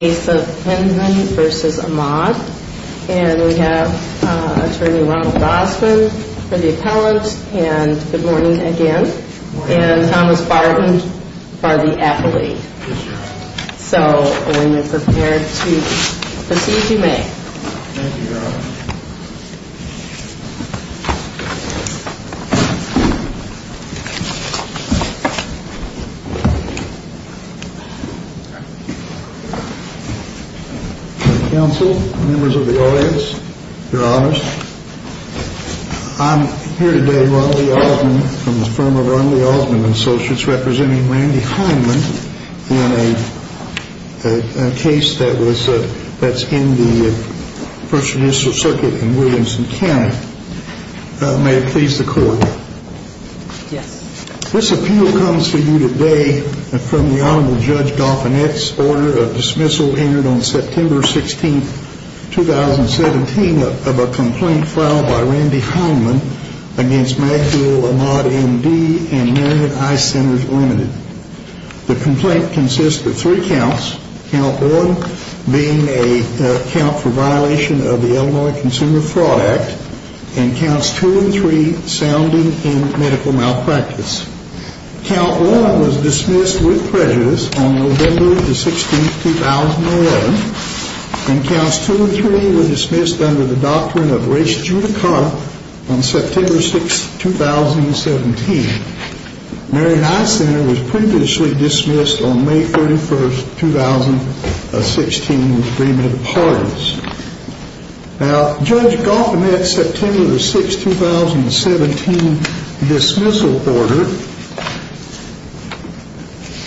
and we have attorney Ronald Bosman for the appellate and good morning again and Thomas Barton for the appellate. So when you're prepared to proceed, you may. Thank you, Your Honor. Counsel, members of the audience, Your Honors, I'm here today with Ronald E. Osmond from the firm of Ronald E. Osmond and Associates representing Randy Hindman in a case that's in the First Judicial Circuit in Williamson County. May it please the Court. Yes. This appeal comes to you today from the Honorable Judge Dauphinette's order of dismissal entered on September 16, 2017 of a complaint filed by Randy Hindman against Maxwell Ahmad M.D. and Marion I. Sinners Limited. The complaint consists of three counts, count one being a count for violation of the Illinois Consumer Fraud Act and counts two and three sounding in medical malpractice. Count one was dismissed with prejudice on November 16, 2011 and counts two and three were dismissed under the doctrine of res judicata on September 6, 2017. Marion I. Sinner was previously dismissed on May 31st, 2016 in agreement of parties. Now, Judge Dauphinette's September 6, 2017 dismissal order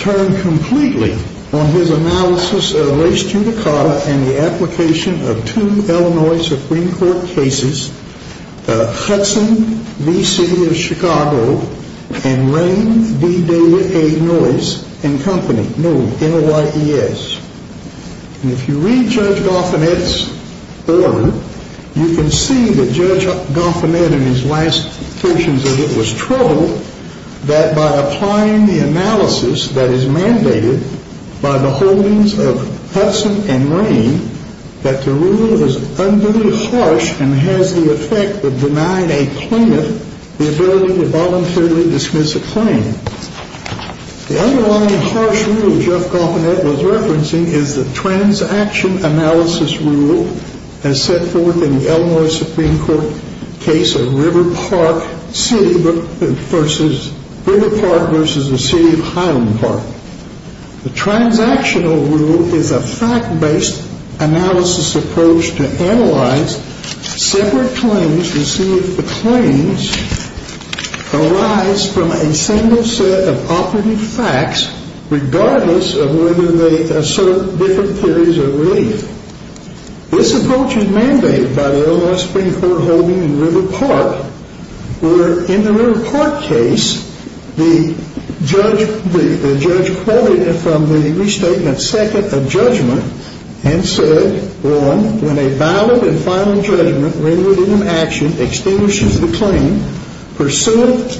turned completely on his analysis of res judicata and the application of two Illinois Supreme Court cases, Hudson v. City of Chicago and Rain v. David A. Noyes and Company. No, N-O-Y-E-S. And if you read Judge Dauphinette's order, you can see that Judge Dauphinette in his last versions of it was troubled that by applying the analysis that is mandated by the holdings of Hudson and Rain, that the rule is unduly harsh and has the effect of denying a plaintiff the ability to voluntarily dismiss a claim. The underlying harsh rule Judge Dauphinette was referencing is the transaction analysis rule as set forth in the Illinois Supreme Court case of River Park v. the City of Highland Park. The transactional rule is a fact-based analysis approach to analyze separate claims to see if the claims arise from a single set of operative facts regardless of whether they assert different theories of relief. This approach is mandated by the Illinois Supreme Court holding in River Park, where in the River Park case, the judge quoted from the restatement second a judgment and said, well, when a valid and final judgment related in action extinguishes the claim pursuant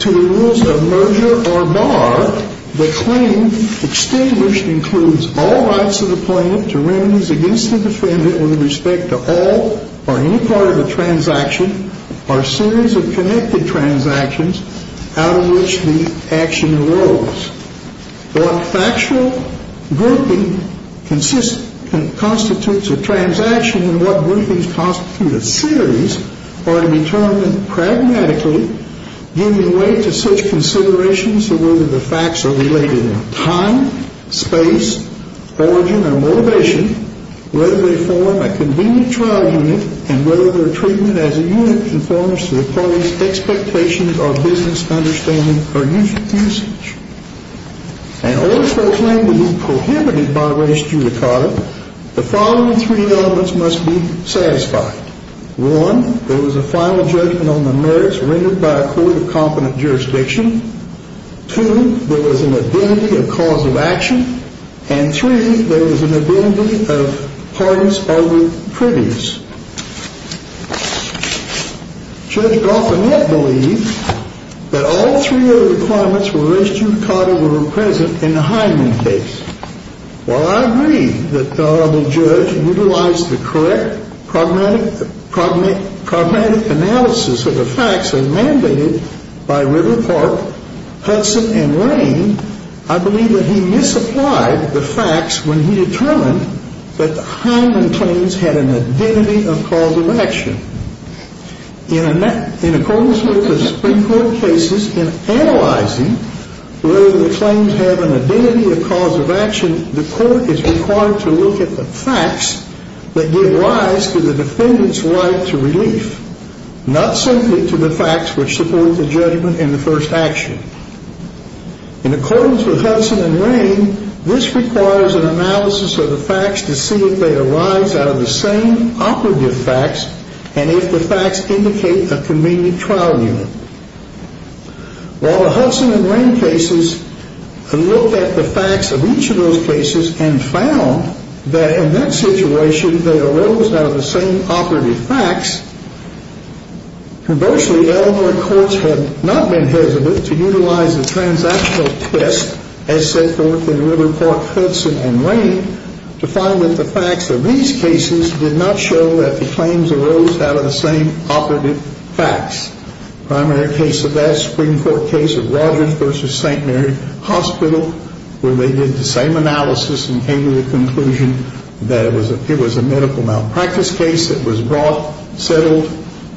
to the rules of merger or bar, the claim extinguished includes all rights of the plaintiff to remedies against the defendant with respect to all or any part of the transaction or series of connected transactions out of which the action arose. In other words, what factual grouping constitutes a transaction and what groupings constitute a series are to be determined pragmatically, giving way to such considerations as whether the facts are related in time, space, origin, or motivation, whether they form a convenient trial unit, and whether their treatment as a unit conforms to the parties' expectations or business understanding or usage. In order for a claim to be prohibited by res judicata, the following three elements must be satisfied. One, there was a final judgment on the merits rendered by a court of competent jurisdiction. Two, there was an identity of cause of action. And three, there was an identity of parties already previous. Judge Golfinet believed that all three of the requirements for res judicata were present in the Hyman case. While I agree that the Honorable Judge utilized the correct pragmatic analysis of the facts as mandated by River Park, Hudson, and Lane, I believe that he misapplied the facts when he determined that the Hyman claims had an identity of cause of action. In accordance with the Supreme Court cases, in analyzing whether the claims have an identity of cause of action, the court is required to look at the facts that give rise to the defendant's right to relief, not simply to the facts which support the judgment in the first action. In accordance with Hudson and Lane, this requires an analysis of the facts to see if they arise out of the same operative facts and if the facts indicate a convenient trial unit. While the Hudson and Lane cases looked at the facts of each of those cases and found that in that situation they arose out of the same operative facts, conversely, elementary courts had not been hesitant to utilize the transactional twist as set forth in River Park, Hudson, and Lane to find that the facts of these cases did not show that the claims arose out of the same operative facts. The primary case of that Supreme Court case of Rogers v. St. Mary Hospital, where they did the same analysis and came to the conclusion that it was a medical malpractice case that was brought, settled,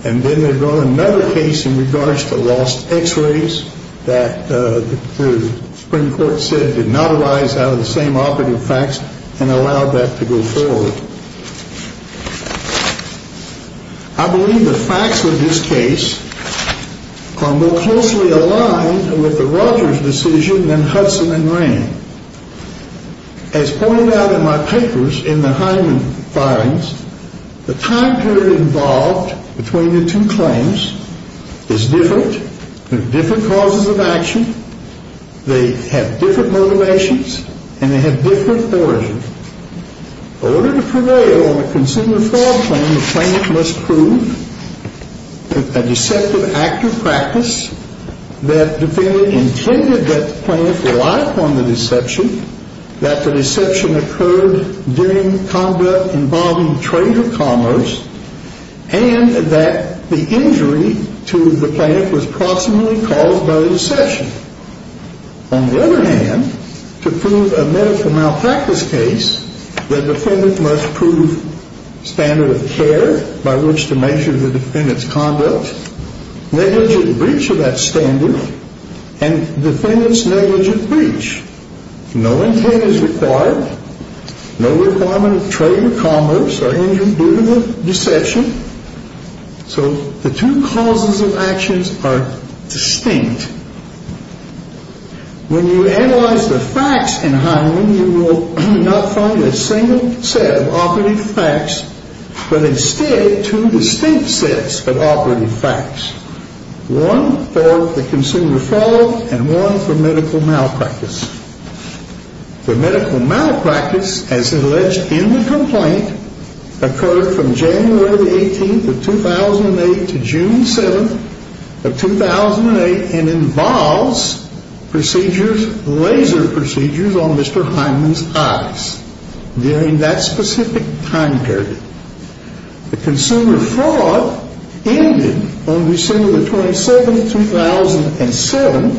and then they brought another case in regards to lost x-rays that the Supreme Court said did not arise out of the same operative facts and allowed that to go forward. I believe the facts of this case are more closely aligned with the Rogers decision than Hudson and Lane. As pointed out in my papers in the Hyman filings, the time period involved between the two claims is different. There are different causes of action. They have different motivations and they have different origins. In order to prevail on a consumer fraud claim, the plaintiff must prove a deceptive act or practice that the defendant intended that the plaintiff rely upon the deception, that the deception occurred during conduct involving trade or commerce, and that the injury to the plaintiff was proximately caused by the deception. On the other hand, to prove a medical malpractice case, the defendant must prove standard of care by which to measure the defendant's conduct, negligent breach of that standard, and defendant's negligent breach. No intent is required. No requirement of trade or commerce or injury due to the deception. So the two causes of actions are distinct. When you analyze the facts in Hyman, you will not find a single set of operative facts, but instead two distinct sets of operative facts, one for the consumer fraud and one for medical malpractice. The medical malpractice, as alleged in the complaint, occurred from January the 18th of 2008 to June 7th of 2008 and involves procedures, laser procedures on Mr. Hyman's eyes during that specific time period. The consumer fraud ended on December the 27th, 2007,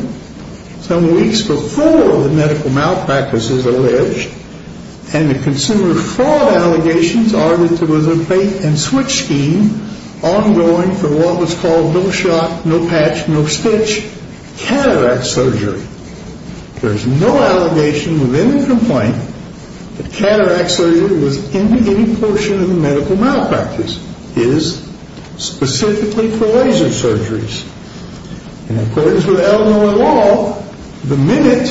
some weeks before the medical malpractice is alleged, and the consumer fraud allegations are that there was a bait-and-switch scheme ongoing for what was called no-shot, no-patch, no-stitch cataract surgery. There is no allegation within the complaint that cataract surgery was in the beginning portion of the medical malpractice. It is specifically for laser surgeries. In accordance with Illinois law, the minute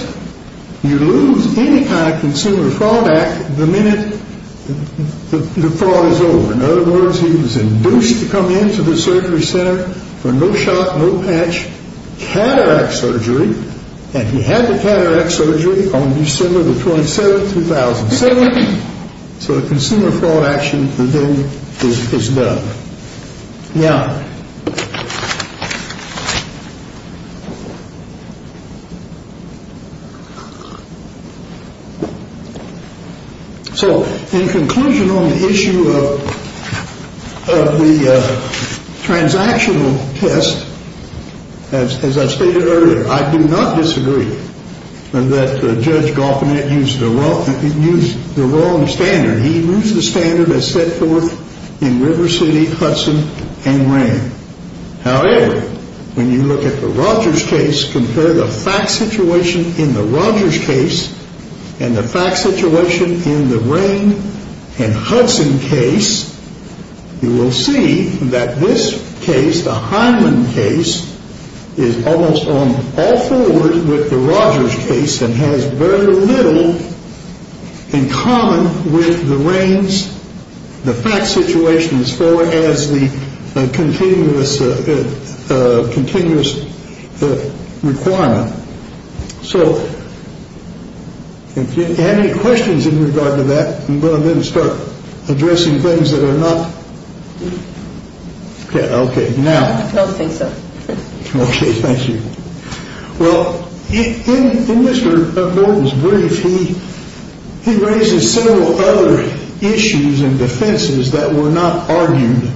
you lose any kind of consumer fraud act, the minute the fraud is over. In other words, he was induced to come into the surgery center for no-shot, no-patch cataract surgery, and he had the cataract surgery on December the 27th, 2007, so the consumer fraud action is done. Now, so in conclusion on the issue of the transactional test, as I stated earlier, I do not disagree that Judge Goffinette used the wrong standard. He used the standard as set forth in River City, Hudson, and Rain. However, when you look at the Rogers case, compare the fact situation in the Rogers case and the fact situation in the Rain and Hudson case, you will see that this case, the Hyman case, is almost all forward with the Rogers case and has very little in common with the Rain's. The fact situation is forward as the continuous requirement. So, if you have any questions in regard to that, I'm going to then start addressing things that are not. Okay, now. I don't think so. Okay, thank you. Well, in Mr. Norton's brief, he raises several other issues and defenses that were not argued.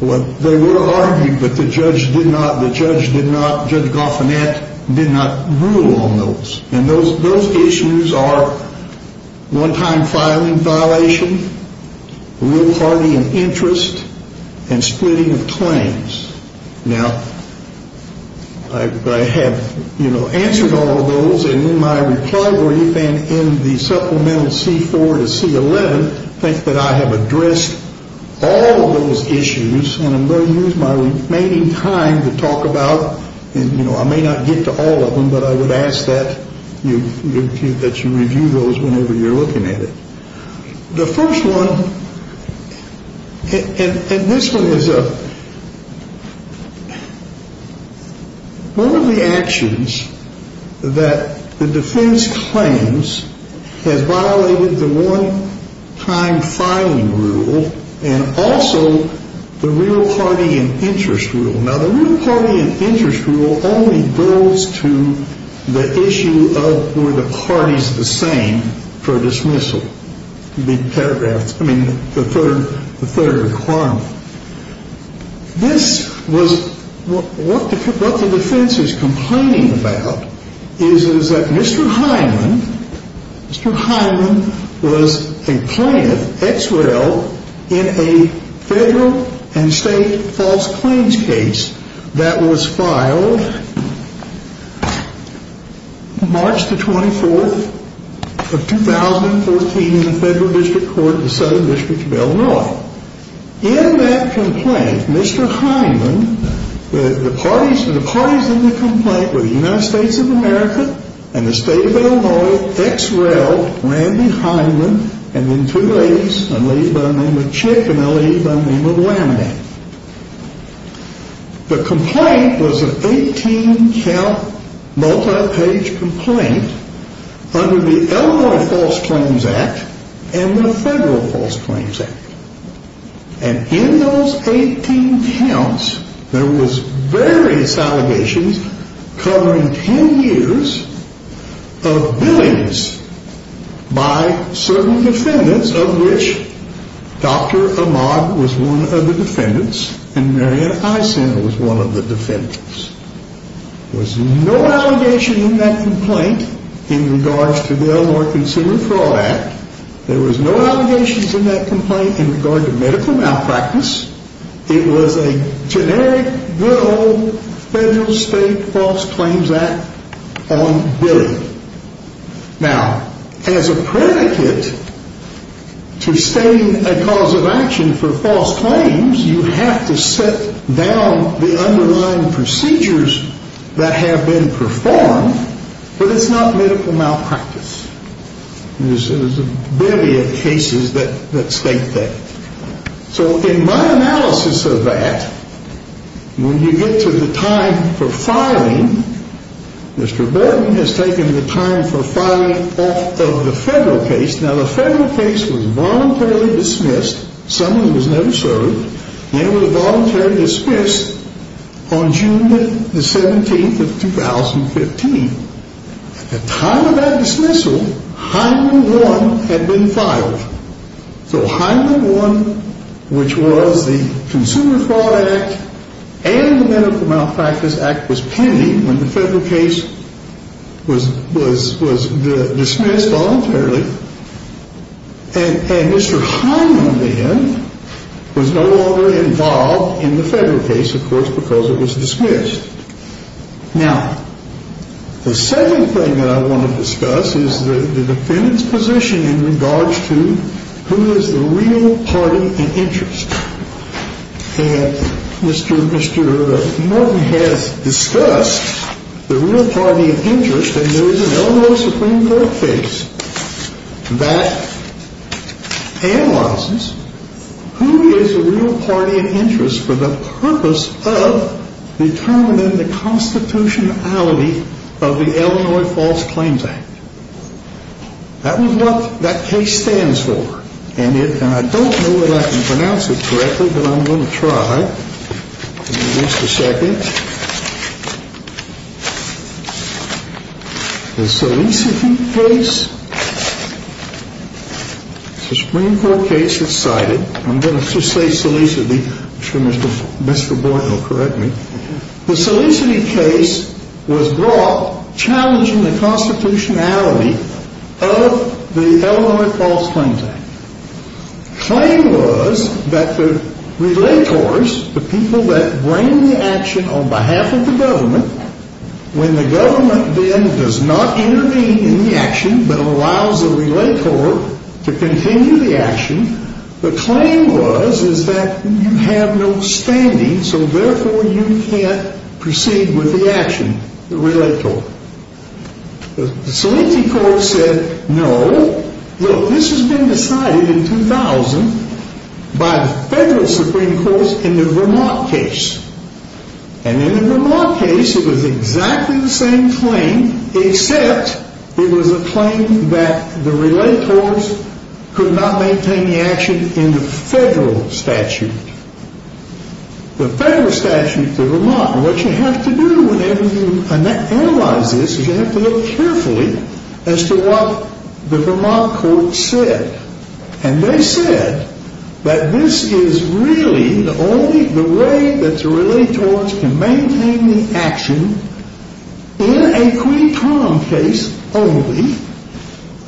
Well, they were argued, but the judge did not, Judge Goffinette did not rule on those. And those issues are one-time filing violation, rule party and interest, and splitting of claims. Now, I have, you know, answered all of those, and in my reply brief and in the supplemental C-4 to C-11, I think that I have addressed all of those issues, and I'm going to use my remaining time to talk about, you know, I may not get to all of them, but I would ask that you review those whenever you're looking at it. The first one, and this one is one of the actions that the defense claims has violated the one-time filing rule and also the real party and interest rule. Now, the real party and interest rule only goes to the issue of were the parties the same for dismissal. The paragraphs, I mean, the third requirement. This was, what the defense is complaining about is that Mr. Hyman, Mr. Hyman was a plaintiff, ex-rail, in a federal and state false claims case that was filed March the 24th of 2014 in the Federal District Court of the Southern District of Illinois. Now, in that complaint, Mr. Hyman, the parties in the complaint were the United States of America and the state of Illinois, ex-rail, Randy Hyman, and then two ladies, a lady by the name of Chick and a lady by the name of Lamine. The complaint was an 18-count, multi-page complaint under the Illinois False Claims Act and the Federal False Claims Act. And in those 18 counts, there was various allegations covering 10 years of billings by certain defendants of which Dr. Ahmad was one of the defendants and Marianne Eisen was one of the defendants. There was no allegation in that complaint in regards to the Illinois Consumer Fraud Act. There was no allegations in that complaint in regard to medical malpractice. It was a generic, good old federal, state false claims act on billing. Now, as a predicate to stating a cause of action for false claims, you have to set down the underlying procedures that have been performed, but it's not medical malpractice. There's a myriad of cases that state that. So, in my analysis of that, when you get to the time for filing, Mr. Borden has taken the time for filing off of the federal case. Now, the federal case was voluntarily dismissed. Some of them was never served. They were voluntarily dismissed on June the 17th of 2015. At the time of that dismissal, Hyman Warren had been filed. So, Hyman Warren, which was the Consumer Fraud Act and the Medical Malpractice Act, was pending when the federal case was dismissed voluntarily. And Mr. Hyman then was no longer involved in the federal case, of course, because it was dismissed. Now, the second thing that I want to discuss is the defendant's position in regards to who is the real party in interest. And Mr. Borden has discussed the real party of interest, and there is an Illinois Supreme Court case that analyzes who is the real party of interest for the purpose of determining the constitutionality of the Illinois False Claims Act. That was what that case stands for. And I don't know that I can pronounce it correctly, but I'm going to try. Give me just a second. The Selecity case is a Supreme Court case that's cited. I'm going to just say Selecity. I'm sure Mr. Borden will correct me. The Selecity case was brought challenging the constitutionality of the Illinois False Claims Act. The claim was that the relators, the people that bring the action on behalf of the government, when the government then does not intervene in the action but allows the relator to continue the action, the claim was is that you have no standing, so therefore you can't proceed with the action, the relator. The Selecity court said no. Look, this has been decided in 2000 by the federal Supreme Court in the Vermont case. And in the Vermont case, it was exactly the same claim except it was a claim that the relators could not maintain the action in the federal statute. The federal statute in Vermont, what you have to do whenever you analyze this is you have to look carefully as to what the Vermont court said. And they said that this is really only the way that the relators can maintain the action in a quid prom case only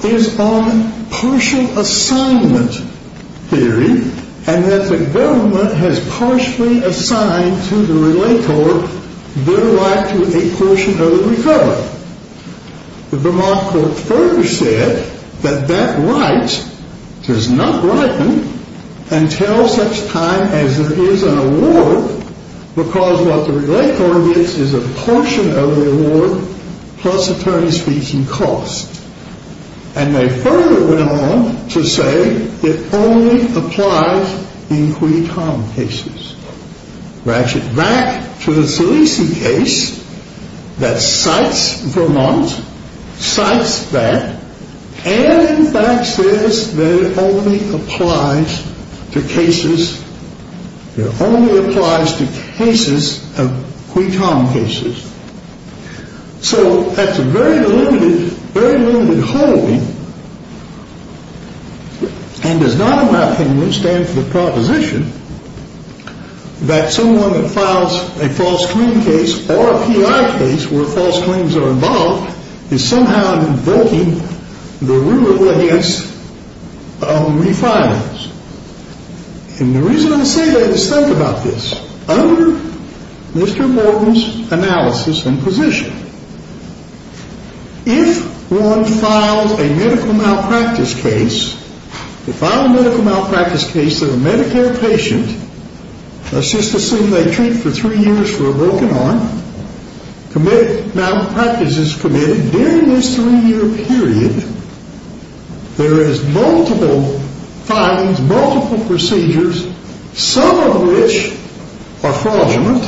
is on partial assignment theory and that the government has partially assigned to the relator their right to a portion of the recovery. The Vermont court further said that that right does not ripen until such time as there is an award because what the relator gets is a portion of the award plus attorney's fees and costs. And they further went on to say it only applies in quid prom cases. Ratchet back to the Selecity case that cites Vermont, cites that, and in fact says that it only applies to cases of quid prom cases. So that's a very limited, very limited holding and does not in my opinion stand for the proposition that someone that files a false claim case or a P.I. case where false claims are involved is somehow invoking the rule of lawyer's refinance. And the reason I say that is think about this. Under Mr. Morton's analysis and position, if one files a medical malpractice case, if I'm a medical malpractice case of a Medicare patient, let's just assume they treat for three years for a broken arm, medical malpractice is committed during this three-year period, there is multiple findings, multiple procedures, some of which are fraudulent,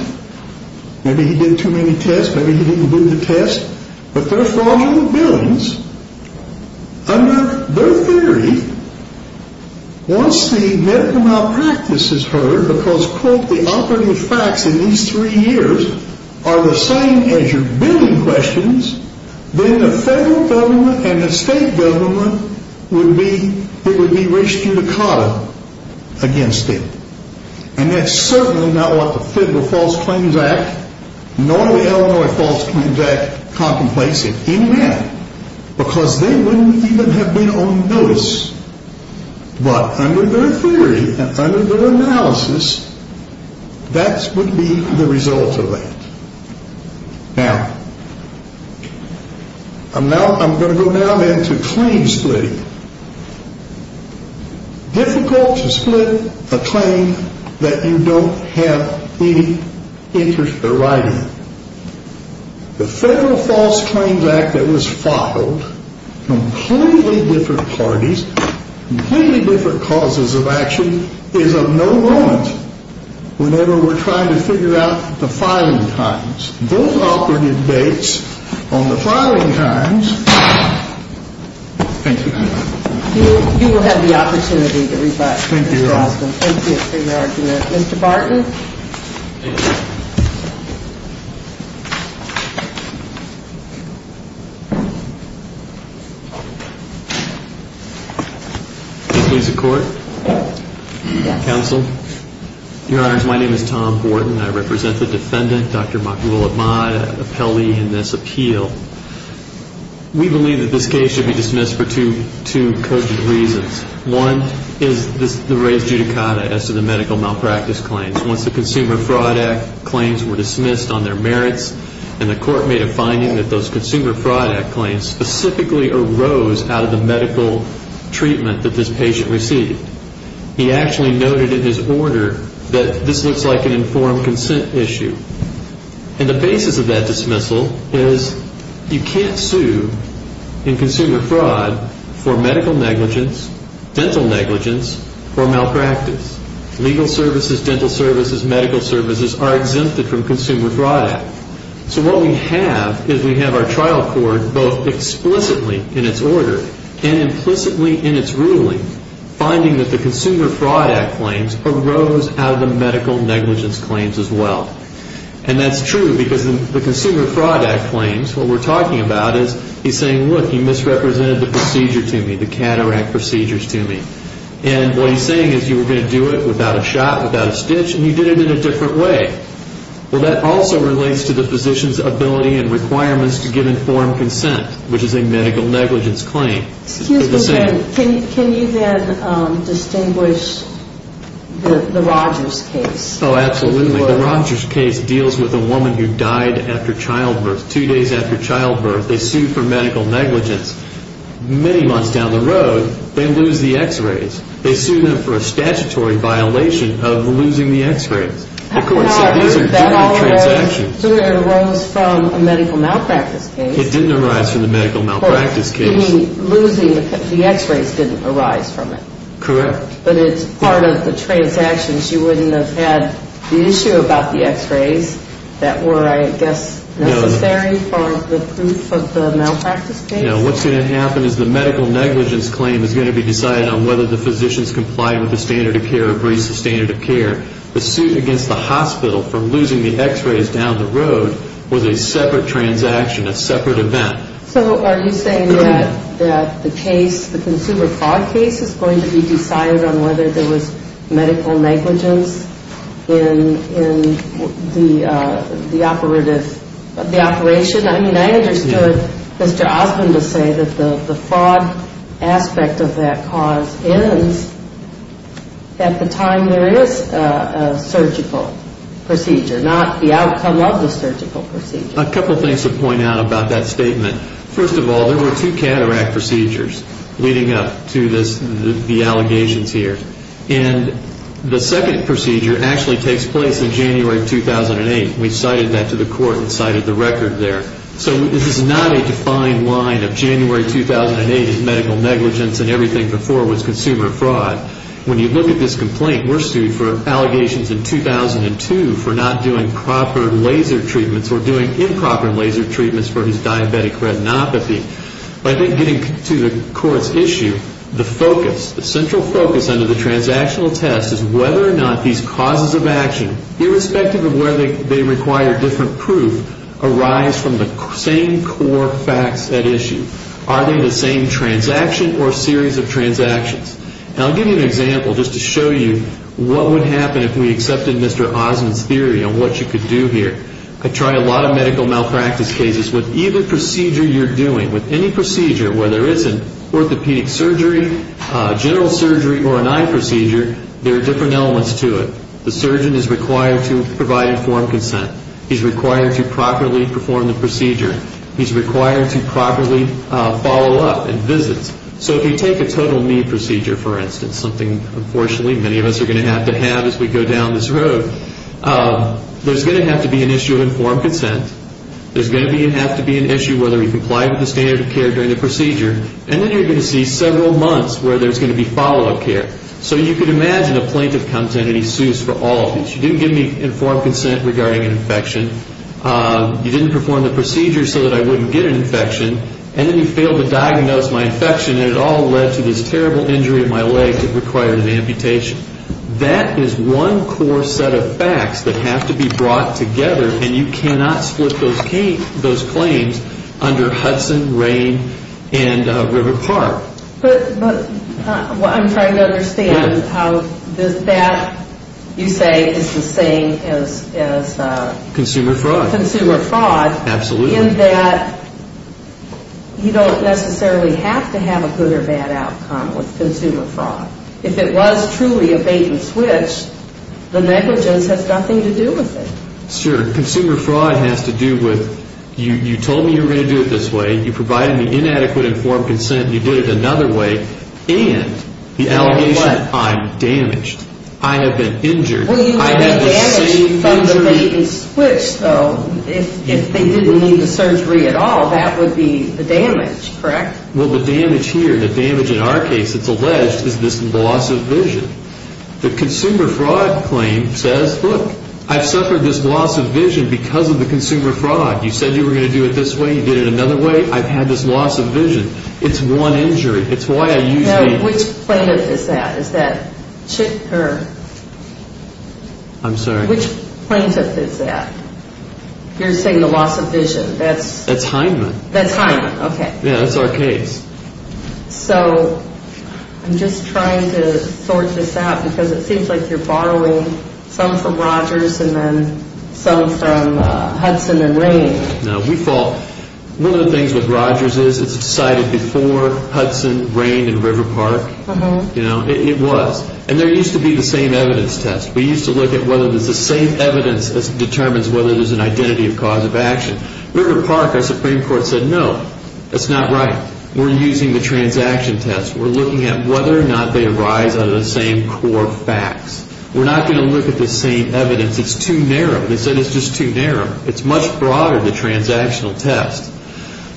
maybe he did too many tests, maybe he didn't do the tests, but they're fraudulent billings. Under their theory, once the medical malpractice is heard because, quote, the operative facts in these three years are the same as your billing questions, then the federal government and the state government would be, it would be re-judicata against it. And that's certainly not what the Federal False Claims Act nor the Illinois False Claims Act contemplates in any manner because they wouldn't even have been on notice. But under their theory and under their analysis, that would be the result of that. Now, I'm going to go now then to claim splitting. Difficult to split a claim that you don't have any interest in writing. The Federal False Claims Act that was filed, completely different parties, completely different causes of action, is of no moment whenever we're trying to figure out the filing times. Both operative dates on the filing times. I'm going to go now to Mr. Barton. Your Honor, my name is Tom Borton. I represent the defendant, Dr. Makhlul Ahmad, appellee in this appeal. We believe that this case should be dismissed for two cogent reasons. One is the re-judicata as to the medical malpractice claims. Once the Consumer Fraud Act claims were dismissed on their merits and the court made a finding that those Consumer Fraud Act claims specifically arose out of the medical treatment that this patient received. He actually noted in his order that this looks like an informed consent issue. And the basis of that dismissal is you can't sue in Consumer Fraud for medical negligence, dental negligence, or malpractice. Legal services, dental services, medical services are exempted from Consumer Fraud Act. So what we have is we have our trial court both explicitly in its order and implicitly in its ruling finding that the Consumer Fraud Act claims arose out of the medical negligence claims as well. And that's true because the Consumer Fraud Act claims, what we're talking about is he's saying, look, you misrepresented the procedure to me, the cataract procedures to me. And what he's saying is you were going to do it without a shot, without a stitch, and you did it in a different way. Well, that also relates to the physician's ability and requirements to give informed consent, which is a medical negligence claim. Can you then distinguish the Rogers case? Oh, absolutely. The Rogers case deals with a woman who died after childbirth. Two days after childbirth, they sued for medical negligence. Many months down the road, they lose the x-rays. They sued them for a statutory violation of losing the x-rays. That arose from a medical malpractice case. It didn't arise from the medical malpractice case. Losing the x-rays didn't arise from it. Correct. But it's part of the transactions. You wouldn't have had the issue about the x-rays that were, I guess, necessary for the proof of the malpractice case? No. What's going to happen is the medical negligence claim is going to be decided on whether the physicians complied with the standard of care or breached the standard of care. The suit against the hospital for losing the x-rays down the road was a separate transaction, a separate event. So are you saying that the case, the consumer fraud case, is going to be decided on whether there was medical negligence in the operation? I mean, I understood Mr. Osmond to say that the fraud aspect of that cause ends at the time there is a surgical procedure, not the outcome of the surgical procedure. A couple things to point out about that statement. First of all, there were two cataract procedures leading up to the allegations here. And the second procedure actually takes place in January 2008. We cited that to the court and cited the record there. So this is not a defined line of January 2008 is medical negligence and everything before was consumer fraud. When you look at this complaint, we're sued for allegations in 2002 for not doing proper laser treatments or doing improper laser treatments for his diabetic retinopathy. But I think getting to the court's issue, the focus, the central focus under the transactional test is whether or not these causes of action, irrespective of whether they require different proof, arise from the same core facts at issue. Are they the same transaction or series of transactions? And I'll give you an example just to show you what would happen if we accepted Mr. Osmond's theory on what you could do here. I try a lot of medical malpractice cases. With either procedure you're doing, with any procedure, whether it's an orthopedic surgery, general surgery, or an eye procedure, there are different elements to it. The surgeon is required to provide informed consent. He's required to properly perform the procedure. He's required to properly follow up and visit. So if you take a total need procedure, for instance, something unfortunately many of us are going to have to have as we go down this road, there's going to have to be an issue of informed consent. There's going to have to be an issue whether he complied with the standard of care during the procedure. And then you're going to see several months where there's going to be follow-up care. So you can imagine a plaintiff comes in and he sues for all of these. You didn't give me informed consent regarding an infection. You didn't perform the procedure so that I wouldn't get an infection. And then you failed to diagnose my infection, and it all led to this terrible injury of my leg that required an amputation. That is one core set of facts that have to be brought together, and you cannot split those claims under Hudson, Rain, and River Park. But I'm trying to understand how that, you say, is the same as... Consumer fraud. Consumer fraud. Absolutely. In that you don't necessarily have to have a good or bad outcome with consumer fraud. If it was truly a bait-and-switch, the negligence has nothing to do with it. Sure. Consumer fraud has to do with you told me you were going to do it this way, you provided me inadequate informed consent, you did it another way, and the allegation I'm damaged, I have been injured. Well, you have been damaged by the bait-and-switch, though. If they didn't need the surgery at all, that would be the damage, correct? Well, the damage here, the damage in our case that's alleged is this loss of vision. The consumer fraud claim says, look, I've suffered this loss of vision because of the consumer fraud. You said you were going to do it this way, you did it another way, I've had this loss of vision. It's one injury. It's why I usually... Now, which plaintiff is that? I'm sorry. Which plaintiff is that? You're saying the loss of vision. That's Heinman. That's Heinman, okay. Yeah, that's our case. So I'm just trying to sort this out because it seems like you're borrowing some from Rogers and then some from Hudson and Rain. No, we fall... One of the things with Rogers is it's decided before Hudson, Rain, and River Park. It was. And there used to be the same evidence test. We used to look at whether there's the same evidence that determines whether there's an identity of cause of action. River Park, our Supreme Court said, no, that's not right. We're using the transaction test. We're looking at whether or not they arise out of the same core facts. We're not going to look at the same evidence. It's too narrow. They said it's just too narrow. It's much broader, the transactional test.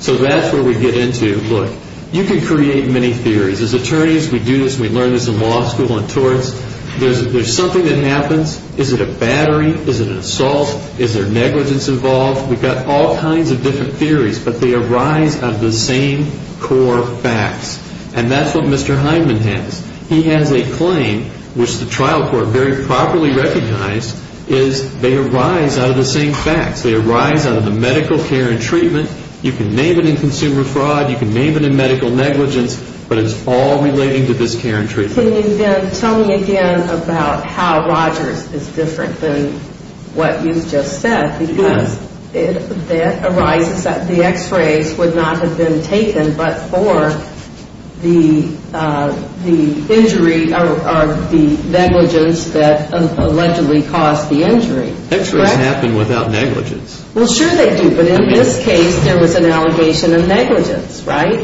So that's where we get into, look, you can create many theories. As attorneys, we do this and we learn this in law school and torts. There's something that happens. Is it a battery? Is it an assault? Is there negligence involved? We've got all kinds of different theories, but they arise out of the same core facts. And that's what Mr. Heinman has. He has a claim, which the trial court very properly recognized, is they arise out of the same facts. They arise out of the medical care and treatment. You can name it in consumer fraud. You can name it in medical negligence. But it's all relating to this care and treatment. Can you then tell me again about how Rogers is different than what you've just said? Because that arises, the x-rays would not have been taken but for the injury or the negligence that allegedly caused the injury. X-rays happen without negligence. Well, sure they do. But in this case, there was an allegation of negligence, right?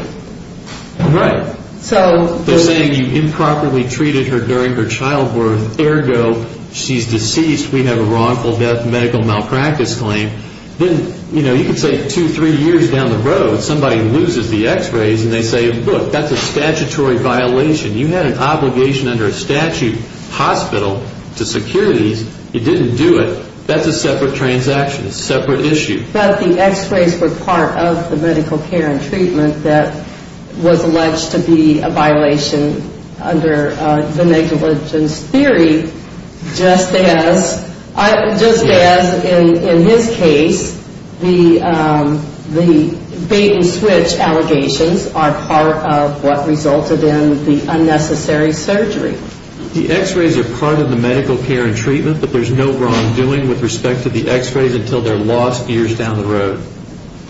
Right. They're saying you improperly treated her during her childbirth. Ergo, she's deceased. We have a wrongful death medical malpractice claim. Then, you know, you could say two, three years down the road, somebody loses the x-rays and they say, Look, that's a statutory violation. You had an obligation under a statute, hospital, to secure these. You didn't do it. That's a separate transaction. It's a separate issue. But the x-rays were part of the medical care and treatment that was alleged to be a violation under the negligence theory, just as in his case, the bait and switch allegations are part of what resulted in the unnecessary surgery. The x-rays are part of the medical care and treatment, but there's no wrongdoing with respect to the x-rays until they're lost years down the road.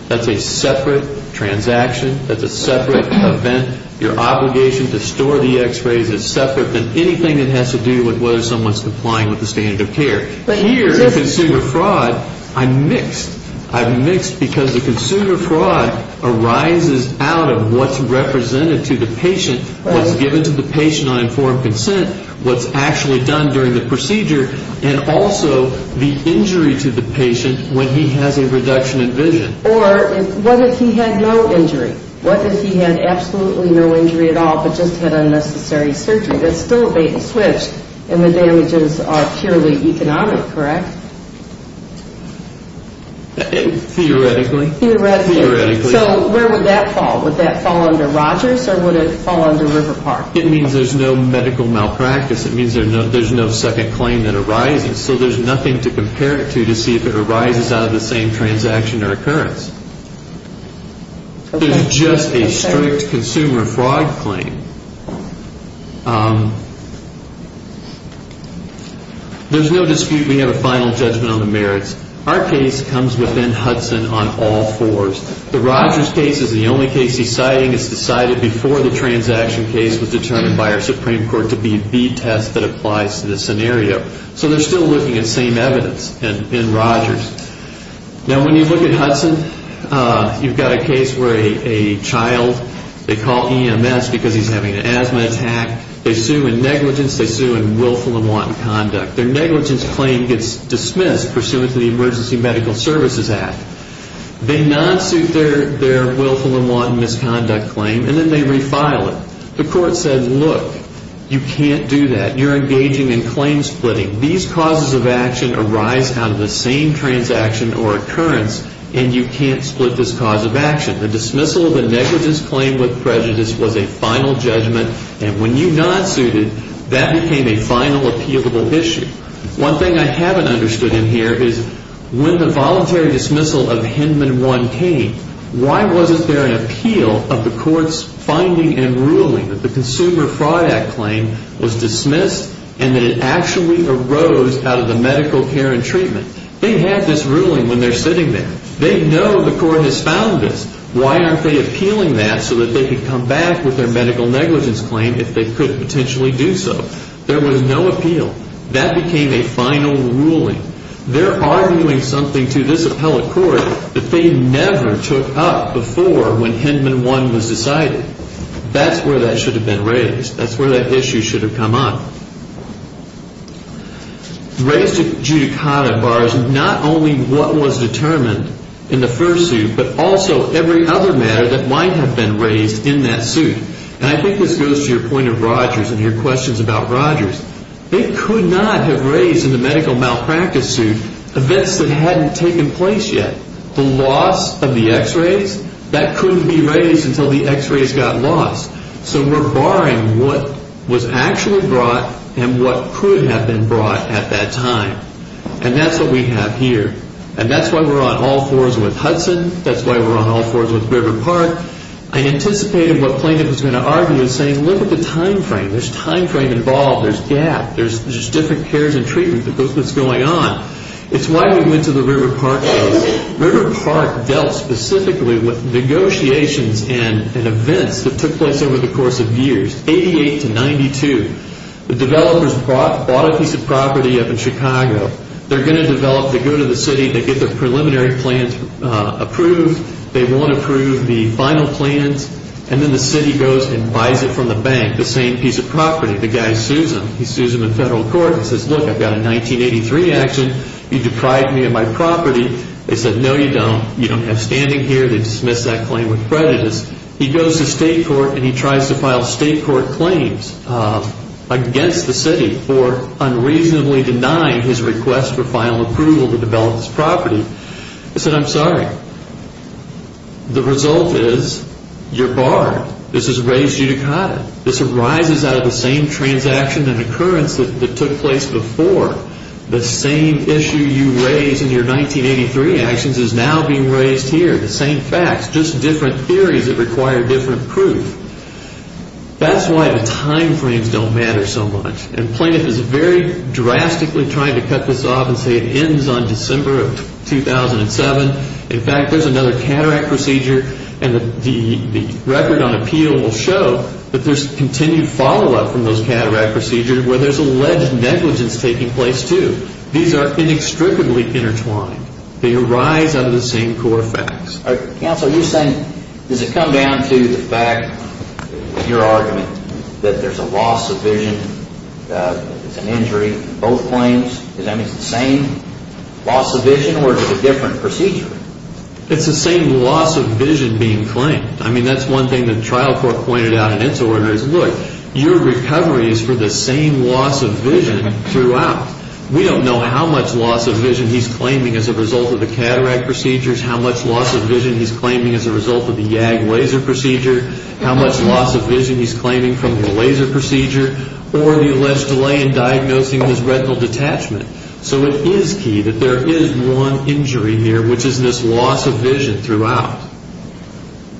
That's a separate transaction. That's a separate event. Your obligation to store the x-rays is separate than anything that has to do with whether someone's complying with the standard of care. Here, in consumer fraud, I'm mixed. I'm mixed because the consumer fraud arises out of what's represented to the patient, what's given to the patient on informed consent, what's actually done during the procedure, and also the injury to the patient when he has a reduction in vision. Or what if he had no injury? What if he had absolutely no injury at all but just had unnecessary surgery? That's still a bait and switch, and the damages are purely economic, correct? Theoretically. Theoretically. Theoretically. So where would that fall? Would that fall under Rogers or would it fall under River Park? It means there's no medical malpractice. It means there's no second claim that arises. So there's nothing to compare it to to see if it arises out of the same transaction or occurrence. There's just a strict consumer fraud claim. There's no dispute we have a final judgment on the merits. Our case comes within Hudson on all fours. The Rogers case is the only case he's citing. It's decided before the transaction case was determined by our Supreme Court to be a B test that applies to this scenario. So they're still looking at same evidence in Rogers. Now, when you look at Hudson, you've got a case where a child, they call EMS because he's having an asthma attack. They sue in negligence. They sue in willful and wanton conduct. Their negligence claim gets dismissed pursuant to the Emergency Medical Services Act. They non-suit their willful and wanton misconduct claim, and then they refile it. The court said, look, you can't do that. You're engaging in claim splitting. These causes of action arise out of the same transaction or occurrence, and you can't split this cause of action. The dismissal of a negligence claim with prejudice was a final judgment, and when you non-suited, that became a final appealable issue. One thing I haven't understood in here is when the voluntary dismissal of Hinman 1 came, why wasn't there an appeal of the court's finding and ruling that the Consumer Fraud Act claim was dismissed and that it actually arose out of the medical care and treatment? They had this ruling when they're sitting there. They know the court has found this. Why aren't they appealing that so that they could come back with their medical negligence claim if they could potentially do so? There was no appeal. That became a final ruling. They're arguing something to this appellate court that they never took up before when Hinman 1 was decided. That's where that should have been raised. That's where that issue should have come up. Raised adjudicata bars not only what was determined in the first suit, but also every other matter that might have been raised in that suit. And I think this goes to your point of Rogers and your questions about Rogers. It could not have raised in the medical malpractice suit events that hadn't taken place yet. The loss of the x-rays, that couldn't be raised until the x-rays got lost. So we're barring what was actually brought and what could have been brought at that time. And that's what we have here. And that's why we're on all fours with Hudson. That's why we're on all fours with River Park. I anticipated what Plaintiff was going to argue in saying look at the time frame. There's time frame involved. There's gap. There's just different cares and treatment that's going on. It's why we went to the River Park case. River Park dealt specifically with negotiations and events that took place over the course of years, 88 to 92. The developers bought a piece of property up in Chicago. They're going to develop to go to the city to get the preliminary plans approved. They won't approve the final plans. And then the city goes and buys it from the bank, the same piece of property. The guy sues them. He sues them in federal court and says, look, I've got a 1983 action. You deprive me of my property. They said, no, you don't. You don't have standing here. They dismiss that claim with prejudice. He goes to state court and he tries to file state court claims against the city for unreasonably denying his request for final approval to develop this property. He said, I'm sorry. The result is you're barred. This is raised judicata. This arises out of the same transaction and occurrence that took place before. The same issue you raised in your 1983 actions is now being raised here. The same facts, just different theories that require different proof. That's why the time frames don't matter so much. And Plaintiff is very drastically trying to cut this off and say it ends on December of 2007. In fact, there's another cataract procedure and the record on appeal will show that there's continued follow-up from those cataract procedures where there's alleged negligence taking place too. These are inextricably intertwined. They arise out of the same core facts. Counsel, are you saying, does it come down to the fact, your argument, that there's a loss of vision, it's an injury, both claims? Does that mean it's the same loss of vision or is it a different procedure? It's the same loss of vision being claimed. I mean, that's one thing the trial court pointed out in its order is, look, your recovery is for the same loss of vision throughout. We don't know how much loss of vision he's claiming as a result of the cataract procedures, how much loss of vision he's claiming as a result of the YAG laser procedure, how much loss of vision he's claiming from the laser procedure, or the alleged delay in diagnosing his retinal detachment. So it is key that there is one injury here, which is this loss of vision throughout.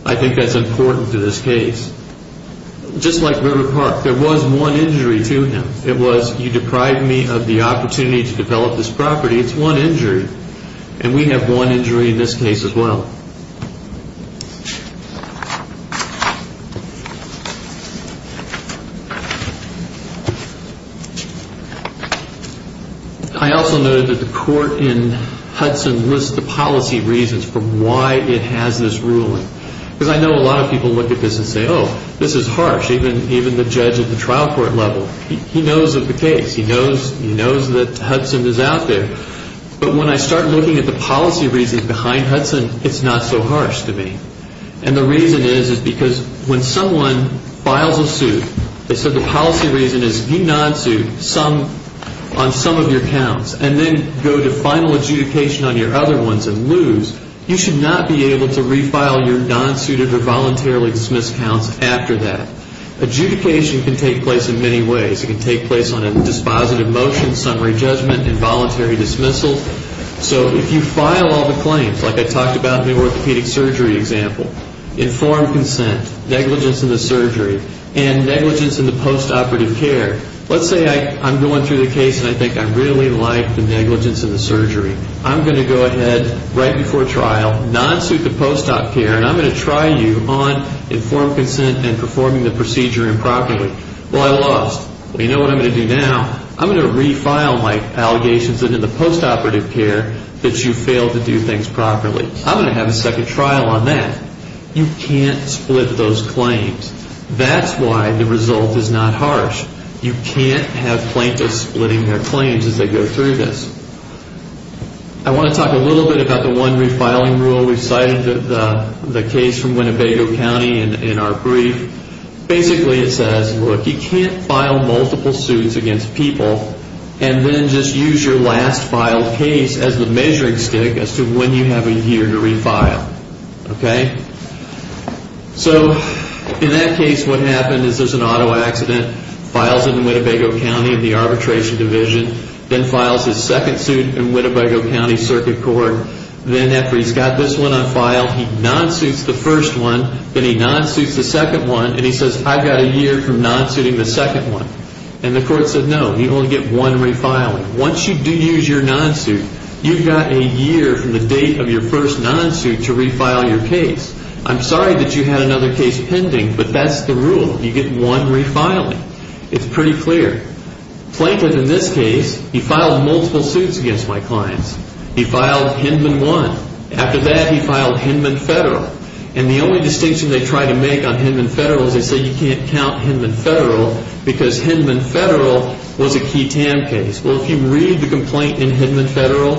I think that's important to this case. Just like River Park, there was one injury to him. It was, you deprive me of the opportunity to develop this property. It's one injury, and we have one injury in this case as well. I also noted that the court in Hudson lists the policy reasons for why it has this ruling. Because I know a lot of people look at this and say, oh, this is harsh, even the judge at the trial court level. He knows of the case. He knows that Hudson is out there. But when I start looking at the policy reasons behind Hudson, it's not so harsh to me. And the reason is, is because when someone files a suit, they said the policy reason is you nonsuit on some of your counts and then go to final adjudication on your other ones and lose. You should not be able to refile your nonsuited or voluntarily dismissed counts after that. Adjudication can take place in many ways. It can take place on a dispositive motion, summary judgment, involuntary dismissal. So if you file all the claims, like I talked about in the orthopedic surgery example, informed consent, negligence in the surgery, and negligence in the post-operative care, let's say I'm going through the case and I think I really like the negligence in the surgery. I'm going to go ahead right before trial, nonsuit the post-op care, and I'm going to try you on informed consent and performing the procedure improperly. Well, I lost. Well, you know what I'm going to do now? I'm going to refile my allegations in the post-operative care that you failed to do things properly. I'm going to have a second trial on that. You can't split those claims. That's why the result is not harsh. You can't have plaintiffs splitting their claims as they go through this. I want to talk a little bit about the one refiling rule. We cited the case from Winnebago County in our brief. Basically it says, look, you can't file multiple suits against people and then just use your last filed case as the measuring stick as to when you have a year to refile. Okay? So in that case what happened is there's an auto accident, files in Winnebago County in the arbitration division, then files his second suit in Winnebago County Circuit Court. Then after he's got this one on file, he nonsuits the first one, then he nonsuits the second one, and he says, I've got a year from nonsuiting the second one. And the court said, no, you only get one refiling. Once you do use your nonsuit, you've got a year from the date of your first nonsuit to refile your case. I'm sorry that you had another case pending, but that's the rule. You get one refiling. It's pretty clear. Plankton in this case, he filed multiple suits against my clients. He filed Hinman 1. After that he filed Hinman Federal. And the only distinction they try to make on Hinman Federal is they say you can't count Hinman Federal because Hinman Federal was a key TAM case. Well, if you read the complaint in Hinman Federal,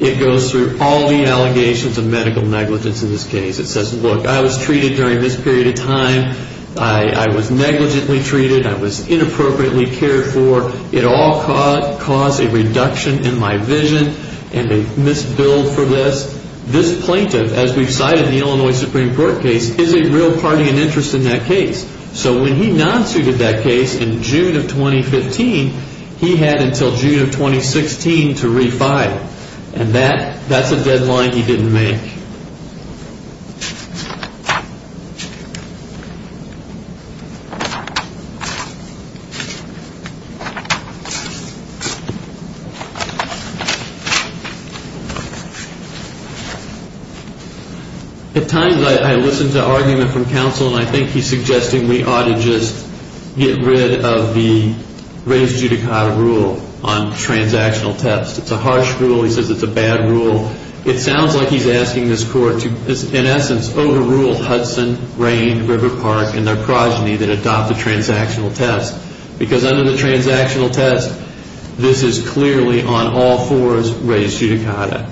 it goes through all the allegations of medical negligence in this case. It says, look, I was treated during this period of time. I was negligently treated. I was inappropriately cared for. It all caused a reduction in my vision and a misbilled for this. This plaintiff, as we've cited in the Illinois Supreme Court case, is a real party and interest in that case. So when he nonsuited that case in June of 2015, he had until June of 2016 to refile. And that's a deadline he didn't make. At times I listen to argument from counsel, and I think he's suggesting we ought to just get rid of the raised judicata rule on transactional thefts. It's a harsh rule. He says it's a bad rule. It sounds like he's asking this court to, in essence, overrule Hudson, Rain, River Park, and their progeny that adopt the transactional thefts because under the transactional thefts, this is clearly on all fours raised judicata.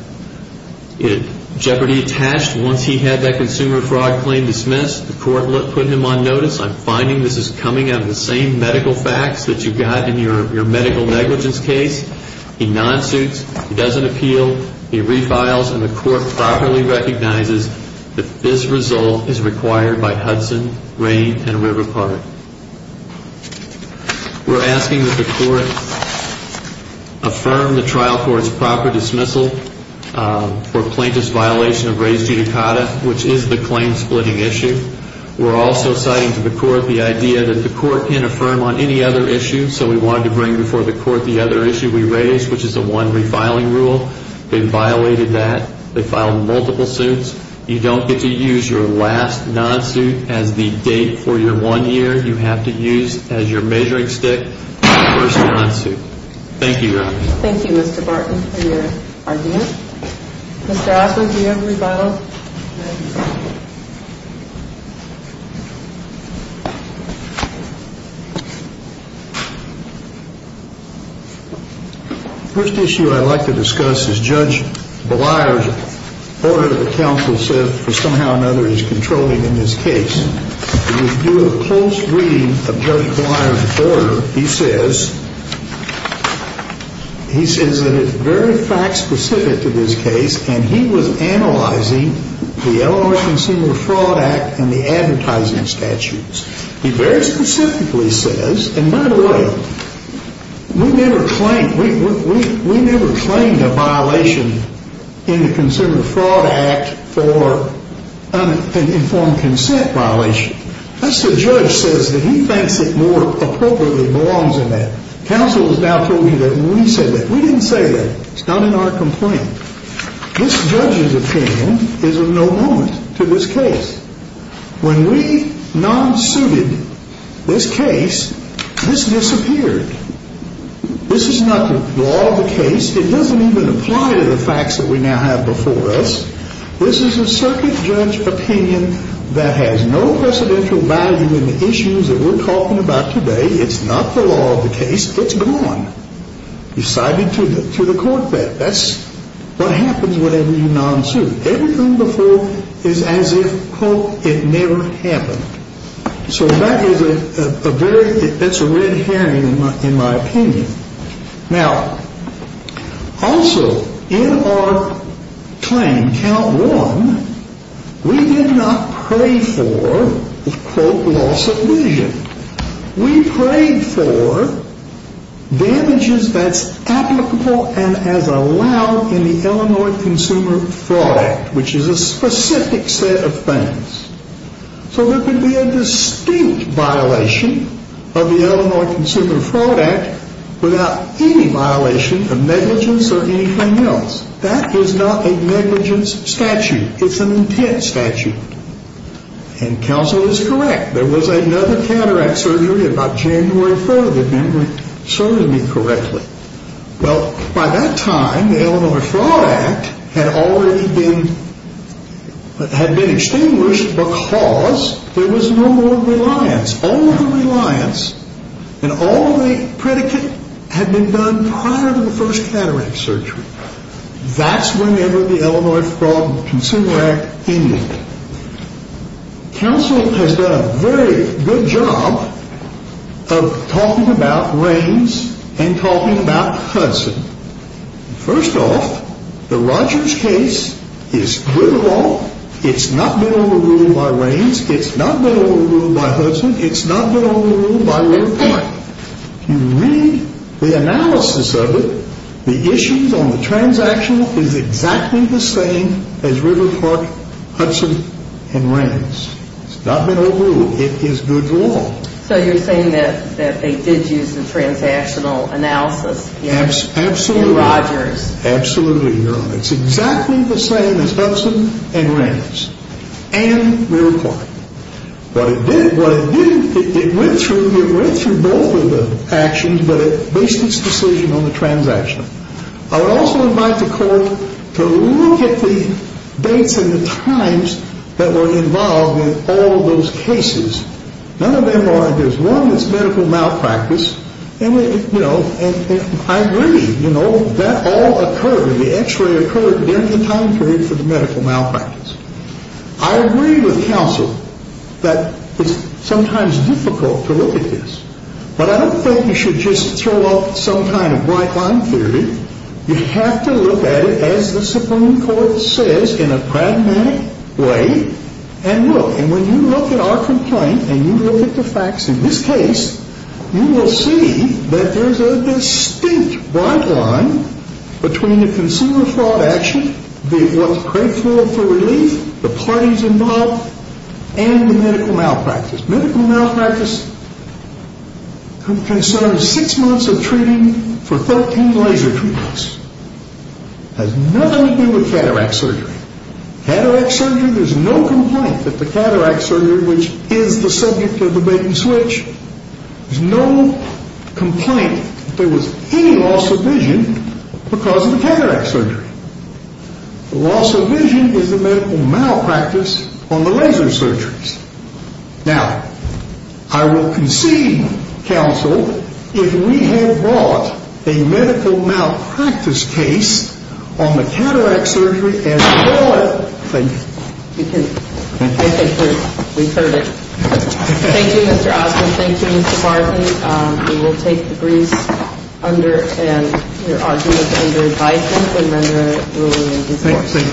Jeopardy attached, once he had that consumer fraud claim dismissed, the court put him on notice. I'm finding this is coming out of the same medical facts that you've got in your medical negligence case. He nonsuits. He doesn't appeal. He refiles, and the court properly recognizes that this result is required by Hudson, Rain, and River Park. We're asking that the court affirm the trial court's proper dismissal for plaintiff's violation of raised judicata, which is the claim-splitting issue. We're also citing to the court the idea that the court can't affirm on any other issue, so we wanted to bring before the court the other issue we raised, which is the one refiling rule. They violated that. They filed multiple suits. You don't get to use your last nonsuit as the date for your one year. You have to use as your measuring stick your first nonsuit. Thank you, Your Honor. Thank you, Mr. Barton, for your argument. Mr. Osmond, do you have a rebuttal? The first issue I'd like to discuss is Judge Belayer's order that counsel said for somehow or another he's controlling in this case. We'll do a close reading of Judge Belayer's order. He says that it's very fact-specific to this case, and he was analyzing the Illinois Consumer Fraud Act and the advertising statutes. He very specifically says, and by the way, we never claimed a violation in the Consumer Fraud Act for an informed consent violation. Us, the judge, says that he thinks it more appropriately belongs in that. Counsel has now told me that when we said that. We didn't say that. It's not in our complaint. This judge's opinion is of no moment to this case. When we nonsuited this case, this disappeared. This is not the law of the case. It doesn't even apply to the facts that we now have before us. This is a circuit judge opinion that has no presidential value in the issues that we're talking about today. It's not the law of the case. It's gone. You've cited to the court that. That's what happens whenever you nonsuit. Everything before is as if, quote, it never happened. So that is a very that's a red herring in my opinion. Now, also, in our claim, count one, we did not pray for, quote, loss of vision. We prayed for damages that's applicable and as allowed in the Illinois Consumer Fraud Act, which is a specific set of things. So there could be a distinct violation of the Illinois Consumer Fraud Act without any violation of negligence or anything else. That is not a negligence statute. It's an intent statute. And counsel is correct. There was another cataract surgery about January 4th, if memory serves me correctly. Well, by that time, the Illinois Fraud Act had already been had been extinguished because there was no more reliance. All the reliance and all the predicate had been done prior to the first cataract surgery. That's whenever the Illinois Fraud Consumer Act ended. Counsel has done a very good job of talking about rains and talking about Hudson. First off, the Rogers case is good law. It's not been overruled by rains. It's not been overruled by Hudson. If you read the analysis of it, the issues on the transaction is exactly the same as River Park, Hudson, and rains. It's not been overruled. It is good law. So you're saying that they did use the transactional analysis in Rogers? Absolutely. Absolutely, Your Honor. It's exactly the same as Hudson and rains and River Park. What it did, what it did, it went through, it went through both of the actions, but it based its decision on the transaction. I would also invite the court to look at the dates and the times that were involved in all of those cases. None of them are, there's one that's medical malpractice. And, you know, I agree, you know, that all occurred, the x-ray occurred during the time period for the medical malpractice. I agree with counsel that it's sometimes difficult to look at this. But I don't think you should just throw off some kind of white line theory. You have to look at it as the Supreme Court says in a pragmatic way and look. And when you look at our complaint and you look at the facts in this case, you will see that there's a distinct white line between the consumer fraud action, what's grateful for relief, the parties involved, and the medical malpractice. Medical malpractice concerns six months of treating for 13 laser treatments. It has nothing to do with cataract surgery. Cataract surgery, there's no complaint that the cataract surgery, which is the subject of debate and switch, there's no complaint that there was any loss of vision because of the cataract surgery. The loss of vision is the medical malpractice on the laser surgeries. Now, I will concede, counsel, if we had brought a medical malpractice case on the cataract surgery as well as the laser surgery. Thank you. We've heard it. Thank you, Mr. Osmond. Thank you, Mr. Bartley. We will take the briefs under and your argument under advice and then we'll move on. Thank you.